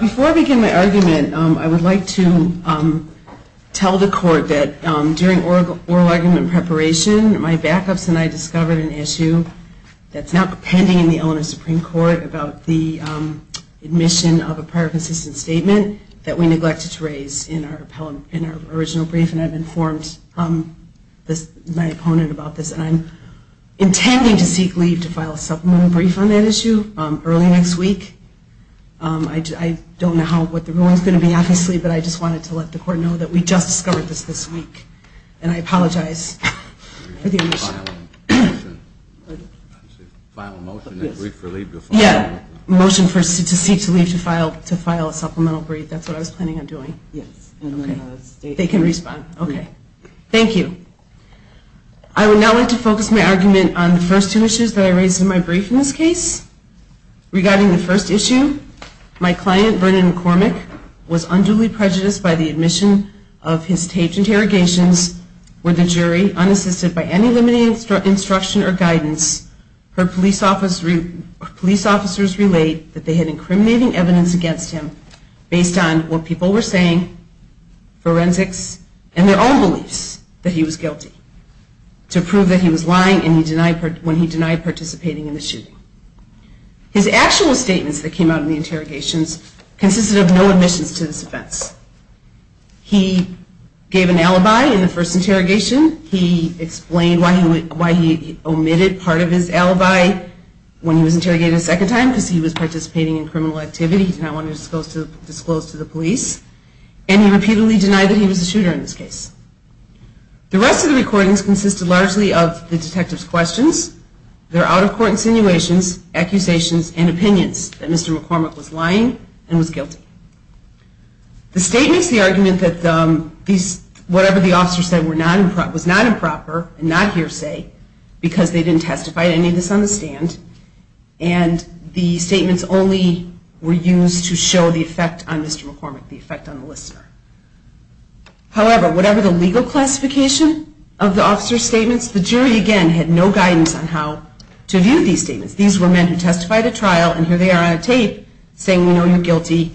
Before I begin my argument, I would like to tell the court that during oral argument preparation, my backups and I discovered an issue with the issue that's now pending in the Eleanor Supreme Court about the admission of a prior consistent statement that we neglected to raise in our original brief. And I've informed my opponent about this and I'm intending to seek leave to file a supplemental brief on that issue early next week. I don't know what the ruling is going to be, obviously, but I just wanted to let the court know that we just discovered this this week. And I apologize for the omission. Motion to seek to leave to file a supplemental brief, that's what I was planning on doing. Yes. They can respond. Okay. Thank you. I would now like to focus my argument on the first two issues that I raised in my brief in this case. Regarding the first issue, my client, Vernon McCormick, was unduly prejudiced by the admission of his taped interrogations where the jury, unassisted by any limiting instruction or guidance, heard police officers relate that they had incriminating evidence against him based on what people were His actual statements that came out of the interrogations consisted of no admissions to this offense. He gave an alibi in the first interrogation. He explained why he omitted part of his alibi when he was interrogated a second time because he was participating in criminal activity. He did not want to disclose to the police. And he repeatedly denied that he was a shooter in this case. The rest of the recordings consisted largely of the detective's questions, their out-of-court insinuations, accusations, and opinions that Mr. McCormick was lying and was guilty. The statement is the argument that whatever the officer said was not improper and not hearsay because they didn't testify to any misunderstand, and the statements only were used to show the effect on Mr. McCormick, the effect on the listener. However, whatever the legal classification of the officer's statements, the jury, again, had no guidance on how to view these statements. These were men who testified at trial, and here they are on tape saying, you know, you're guilty.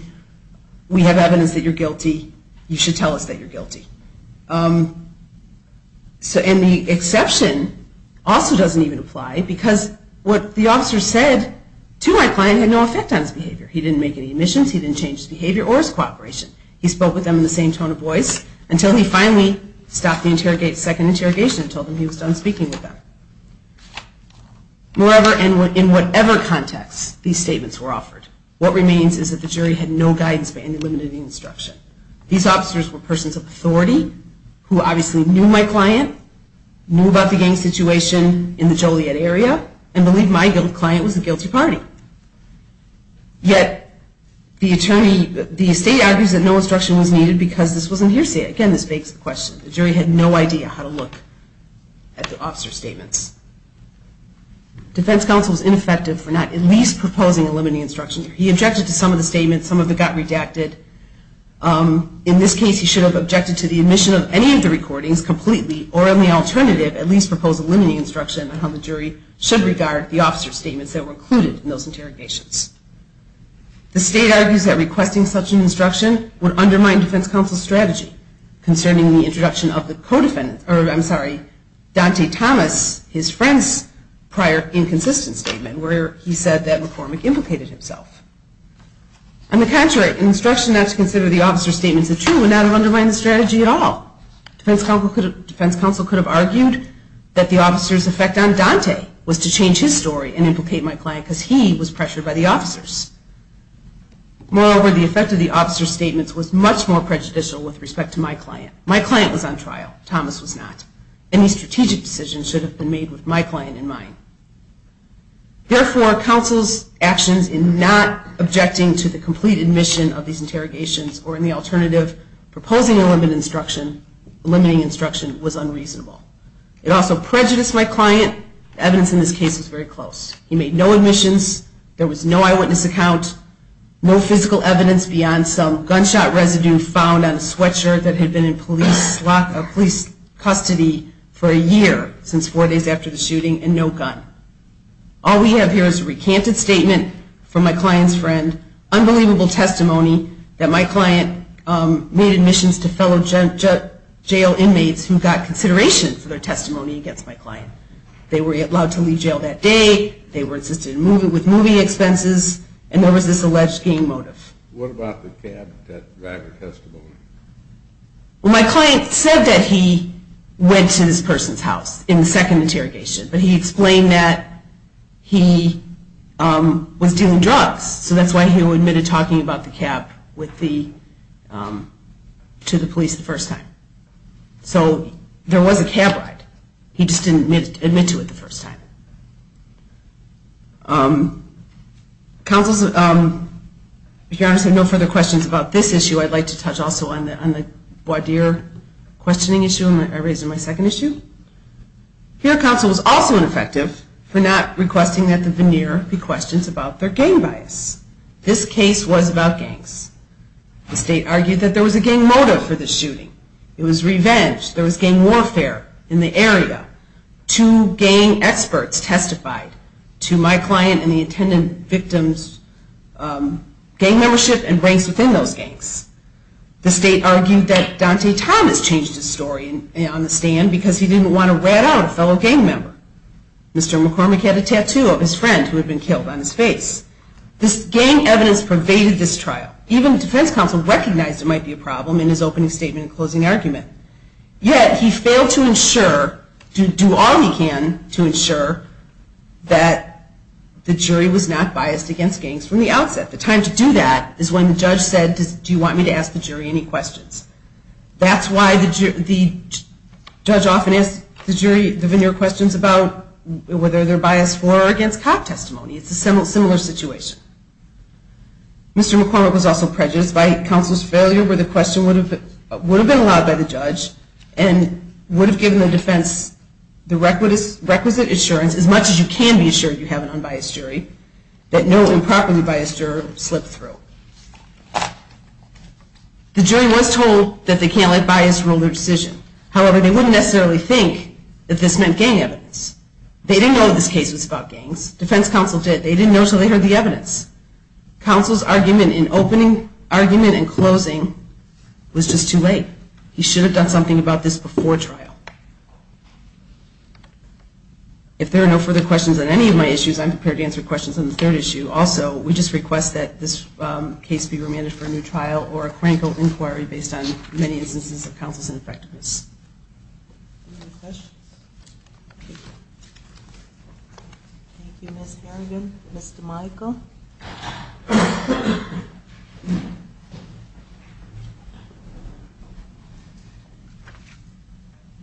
We have evidence that you're guilty. You should tell us that you're guilty. And the exception also doesn't even apply because what the officer said to my client had no effect on his behavior. He didn't make any admissions. He didn't change his behavior or his cooperation. He spoke with them in the same tone of voice until he finally stopped the second interrogation and told them he was done speaking with them. Moreover, in whatever context these statements were offered, what remains is that the jury had no guidance on any limiting instruction. These officers were persons of authority who obviously knew my client, knew about the gang situation in the Joliet area, and believed my client was the guilty party. Yet the state argues that no instruction was needed because this wasn't hearsay. Again, this begs the question. The jury had no idea how to look at the officer's statements. Defense counsel is ineffective for not at least proposing a limiting instruction. He objected to some of the statements. Some of them got redacted. In this case, he should have objected to the admission of any of the recordings completely, or on the alternative, at least propose a limiting instruction on how the jury should regard the officer's statements that were included in those interrogations. The state argues that requesting such an instruction would undermine defense counsel's strategy concerning the introduction of the co-defendant, or I'm sorry, Dante Thomas, his friend's prior inconsistent statement where he said that McCormick implicated himself. On the contrary, an instruction not to consider the officer's statements as true would not have undermined the strategy at all. Defense counsel could have argued that the officer's effect on Dante was to change his story and implicate my client because he was pressured by the officers. Moreover, the effect of the officer's statements was much more prejudicial with respect to my client. My client was on trial. Thomas was not. Any strategic decision should have been made with my client in mind. Therefore, counsel's actions in not objecting to the complete admission of these interrogations, or in the alternative, proposing a limiting instruction was unreasonable. It also prejudiced my client. The evidence in this case was very close. He made no admissions. There was no eyewitness account, no physical evidence beyond some gunshot residue found on a sweatshirt that had been in police custody for a year, since four days after the shooting, and no gun. All we have here is a recanted statement from my client's friend, unbelievable testimony that my client made admissions to fellow jail inmates who got consideration for their testimony against my client. They were allowed to leave jail that day. They were assisted with moving expenses. And there was this alleged game motive. What about the cab driver testimony? Well, my client said that he went to this person's house in the second interrogation. But he explained that he was dealing drugs. So that's why he admitted talking about the cab to the police the first time. So there was a cab ride. He just didn't admit to it the first time. If your Honor has no further questions about this issue, I'd like to touch also on the voir dire questioning issue. I raised it in my second issue. Here counsel was also ineffective for not requesting that the veneer be questioned about their gang bias. This case was about gangs. The state argued that there was a gang motive for the shooting. It was revenge. There was gang warfare in the area. Two gang experts testified to my client and the intended victim's gang membership and race within those gangs. The state argued that Dante Thomas changed his story on the stand because he didn't want to rat out a fellow gang member. Mr. McCormick had a tattoo of his friend who had been killed on his face. This gang evidence pervaded this trial. Even the defense counsel recognized it might be a problem in his opening statement and closing argument. Yet he failed to do all he can to ensure that the jury was not biased against gangs from the outset. The time to do that is when the judge said, do you want me to ask the jury any questions? That's why the judge often asks the jury the veneer questions about whether they're biased for or against cop testimony. It's a similar situation. Mr. McCormick was also prejudiced by counsel's failure where the question would have been allowed by the judge and would have given the defense the requisite assurance, as much as you can be assured you have an unbiased jury, that no improperly biased juror would slip through. The jury was told that they can't let bias rule their decision. However, they wouldn't necessarily think that this meant gang evidence. They didn't know this case was about gangs. Defense counsel did. They didn't know until they heard the evidence. Counsel's argument in opening argument and closing was just too late. He should have done something about this before trial. If there are no further questions on any of my issues, I'm prepared to answer questions on the third issue. Also, we just request that this case be remanded for a new trial or a clinical inquiry based on many instances of counsel's ineffectiveness. Any other questions? Thank you, Ms. Harrigan. Mr. Michael?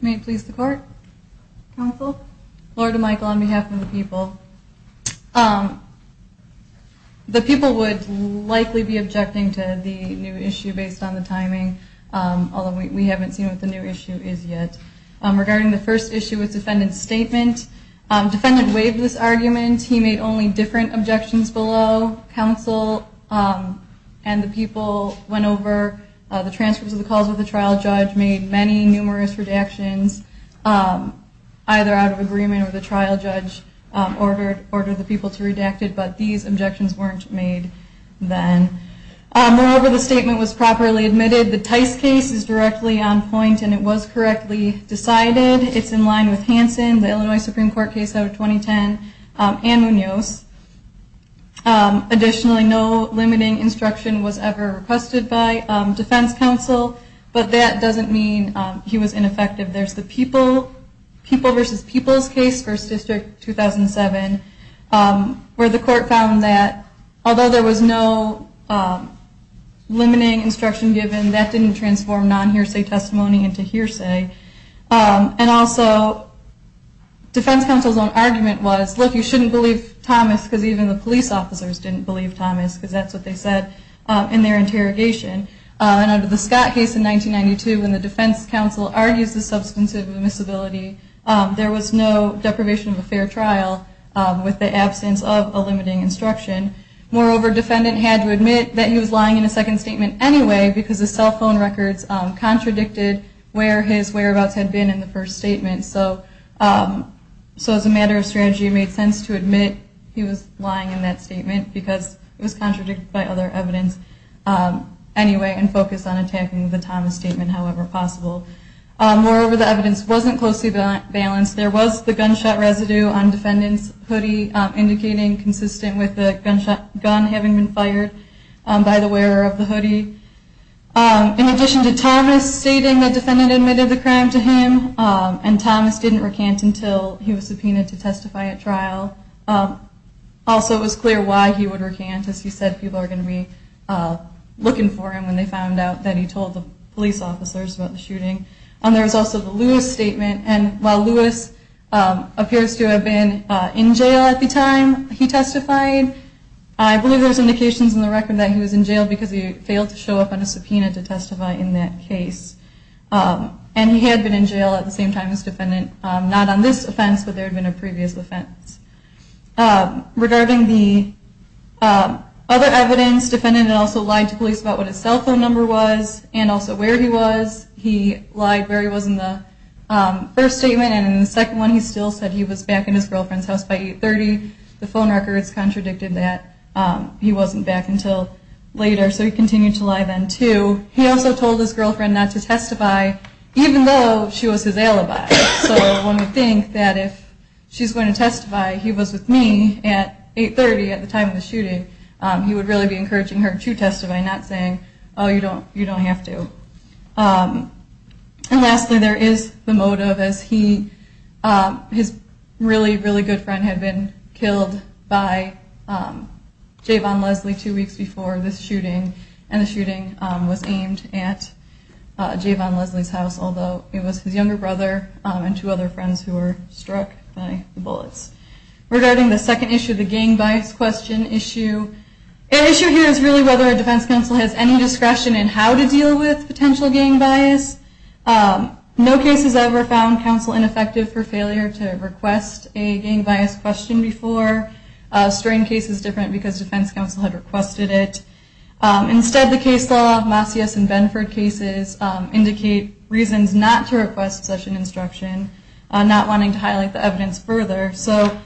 May it please the court? Counsel? Lord to Michael, on behalf of the people. The people would likely be objecting to the new issue based on the timing, although we haven't seen what the new issue is yet. Regarding the first issue with defendant's statement, defendant waived this argument. He made only different objections below. Counsel and the people went over the transcripts of the calls with the trial judge, made many numerous redactions, either out of agreement or the trial judge ordered the people to redact it. But these objections weren't made then. Moreover, the statement was properly admitted. The Tice case is directly on point and it was correctly decided. It's in line with Hansen, the Illinois Supreme Court case out of 2010. And Munoz. Additionally, no limiting instruction was ever requested by defense counsel. But that doesn't mean he was ineffective. There's the people versus people's case, first district 2007, where the court found that although there was no limiting instruction given, that didn't transform non-hearsay testimony into hearsay. And also, defense counsel's own argument was, look, you shouldn't believe Thomas because even the police officers didn't believe Thomas because that's what they said in their interrogation. And under the Scott case in 1992, when the defense counsel argues the substantive admissibility, there was no deprivation of a fair trial with the absence of a limiting instruction. Moreover, defendant had to admit that he was lying in a second statement anyway because his cell phone records contradicted where his whereabouts had been in the first statement. So as a matter of strategy, it made sense to admit he was lying in that statement because it was contradicted by other evidence anyway and focus on attacking the Thomas statement however possible. Moreover, the evidence wasn't closely balanced. There was the gunshot residue on defendant's hoodie, indicating consistent with the gun having been fired by the wearer of the hoodie. In addition to Thomas stating the defendant admitted the crime to him, and Thomas didn't recant until he was subpoenaed to testify at trial. Also, it was clear why he would recant, as he said people are going to be looking for him when they found out that he told the police officers about the shooting. There was also the Lewis statement. And while Lewis appears to have been in jail at the time he testified, I believe there's indications in the record that he was in jail because he failed to show up on a subpoena to testify in that case. And he had been in jail at the same time as defendant, not on this offense, but there had been a previous offense. Regarding the other evidence, defendant also lied to police about what his cell phone number was and also where he was. He lied where he was in the first statement and in the second one he still said he was back in his girlfriend's house by 8.30. The phone records contradicted that he wasn't back until later, so he continued to lie then too. He also told his girlfriend not to testify, even though she was his alibi. So one would think that if she's going to testify, he was with me at 8.30 at the time of the shooting, he would really be encouraging her to testify, not saying, oh, you don't have to. And lastly, there is the motive, as his really, really good friend had been killed by Jayvon Leslie two weeks before this shooting, and the shooting was aimed at Jayvon Leslie's house, although it was his younger brother and two other friends who were struck by the bullets. Regarding the second issue, the gang bias question issue, the issue here is really whether a defense counsel has any discretion in how to deal with potential gang bias. No case has ever found counsel ineffective for failure to request a gang bias question before. Strain case is different because defense counsel had requested it. Instead, the case law, Masias and Benford cases, indicate reasons not to request such an instruction, not wanting to highlight the evidence further. So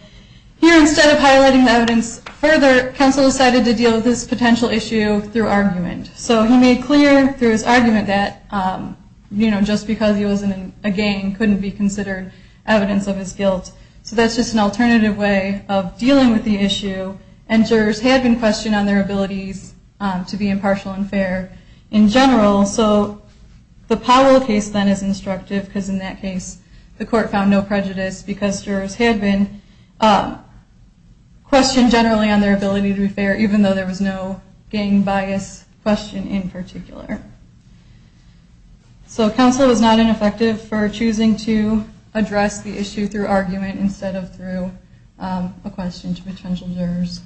here, instead of highlighting the evidence further, counsel decided to deal with this potential issue through argument. So he made clear through his argument that, you know, just because he was in a gang couldn't be considered evidence of his guilt. So that's just an alternative way of dealing with the issue, and jurors had been questioned on their abilities to be impartial and fair in general. So the Powell case then is instructive, because in that case, the court found no prejudice, because jurors had been questioned generally on their ability to be fair, even though there was no gang bias question in particular. So counsel was not ineffective for choosing to address the issue through argument instead of through a question to potential jurors.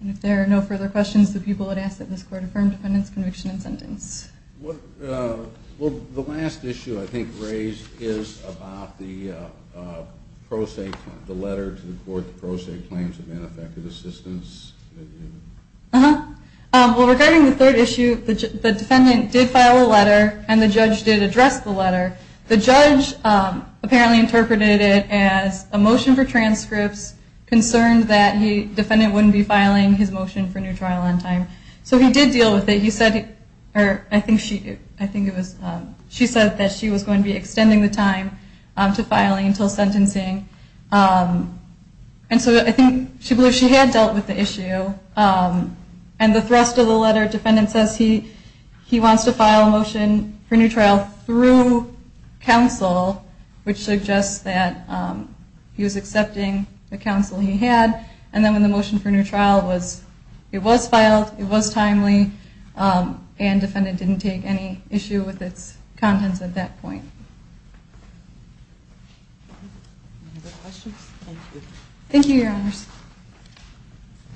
And if there are no further questions, the people had asked that this court affirm defendant's conviction and sentence. Well, the last issue I think raised is about the letter to the court that pro se claims of ineffective assistance. Well, regarding the third issue, the defendant did file a letter, and the judge did address the letter. The judge apparently interpreted it as a motion for transcripts, concerned that the defendant wouldn't be filing his motion for new trial on time. So he did deal with it. He said, or I think it was she said that she was going to be extending the time to filing until sentencing. And so I think she had dealt with the issue. And the thrust of the letter, defendant says he wants to file a motion for new trial through counsel, which suggests that he was accepting the counsel he had. And then when the motion for new trial was, it was filed, it was timely, and defendant didn't take any issue with its contents at that point. Any other questions? Thank you. Thank you, Your Honors.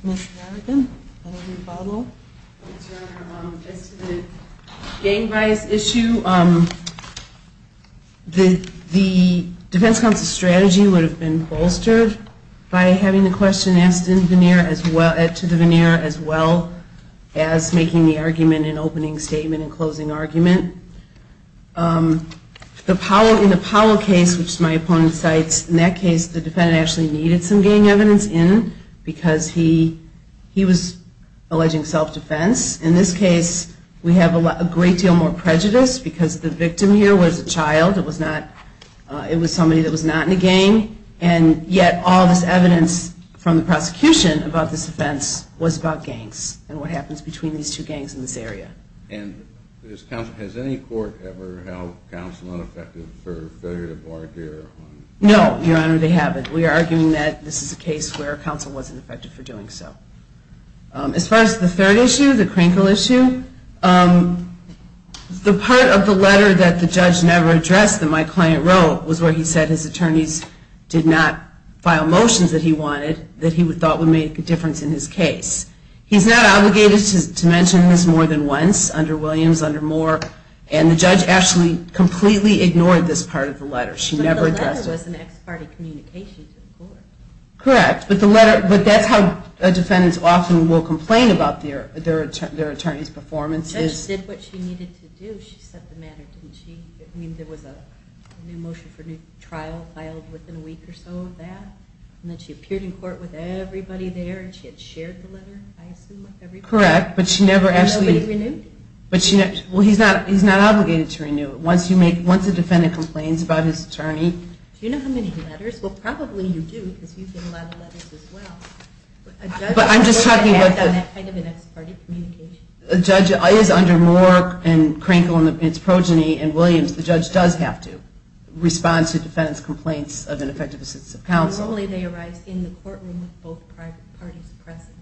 Ms. Larigan, any rebuttal? Yes, Your Honor. As to the gang bias issue, the defense counsel's strategy would have been bolstered by having the question asked to the veneer, as well as making the argument in opening statement and closing argument. In the Powell case, which my opponent cites, in that case, the defendant actually needed some gang evidence in because he was alleging self-defense. In this case, we have a great deal more prejudice because the victim here was a child. It was somebody that was not in a gang. And yet all this evidence from the prosecution about this offense was about gangs and what happens between these two gangs in this area. And has any court ever held counsel unaffected for failure to bargain? No, Your Honor. They haven't. We are arguing that this is a case where counsel wasn't affected for doing so. As far as the third issue, the Krinkle issue, the part of the letter that the judge never addressed that my client wrote was where he said his attorneys did not file motions that he wanted that he thought would make a difference in his case. He's not obligated to mention this more than once under Williams, under Moore. And the judge actually completely ignored this part of the letter. She never addressed it. But the letter was an ex parte communication to the court. Correct. But that's how defendants often will complain about their attorneys' performances. The judge did what she needed to do. She set the matter, didn't she? I mean, there was a new motion for a new trial filed within a week or so of that. And then she appeared in court with everybody there and she had shared the letter, I assume, with everybody. Correct. But she never actually... And nobody renewed it. Well, he's not obligated to renew it. Once a defendant complains about his attorney... Do you know how many letters? Well, probably you do because you get a lot of letters as well. But I'm just talking about... A judge is under Moore and Krinkle and it's Progeny and Williams. The judge does have to respond to defendants' complaints of ineffective assistance of counsel. Normally they arise in the courtroom with both parties present.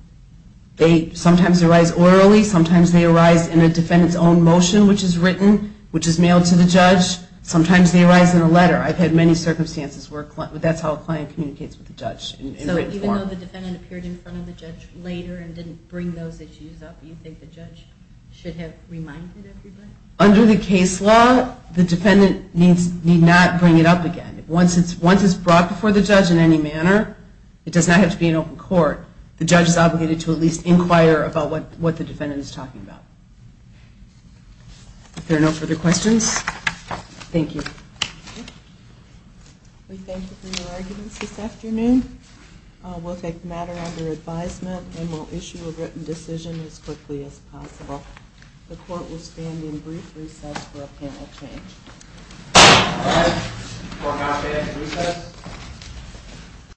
They sometimes arise orally. Sometimes they arise in a defendant's own motion, which is written, which is mailed to the judge. Sometimes they arise in a letter. I've had many circumstances where that's how a client communicates with a judge in written form. So even though the defendant appeared in front of the judge later and didn't bring those issues up, do you think the judge should have reminded everybody? Under the case law, the defendant need not bring it up again. Once it's brought before the judge in any manner, it does not have to be in open court. The judge is obligated to at least inquire about what the defendant is talking about. If there are no further questions, thank you. We thank you for your arguments this afternoon. We'll take the matter under advisement and we'll issue a written decision as quickly as possible. The court will stand in brief recess for a panel change.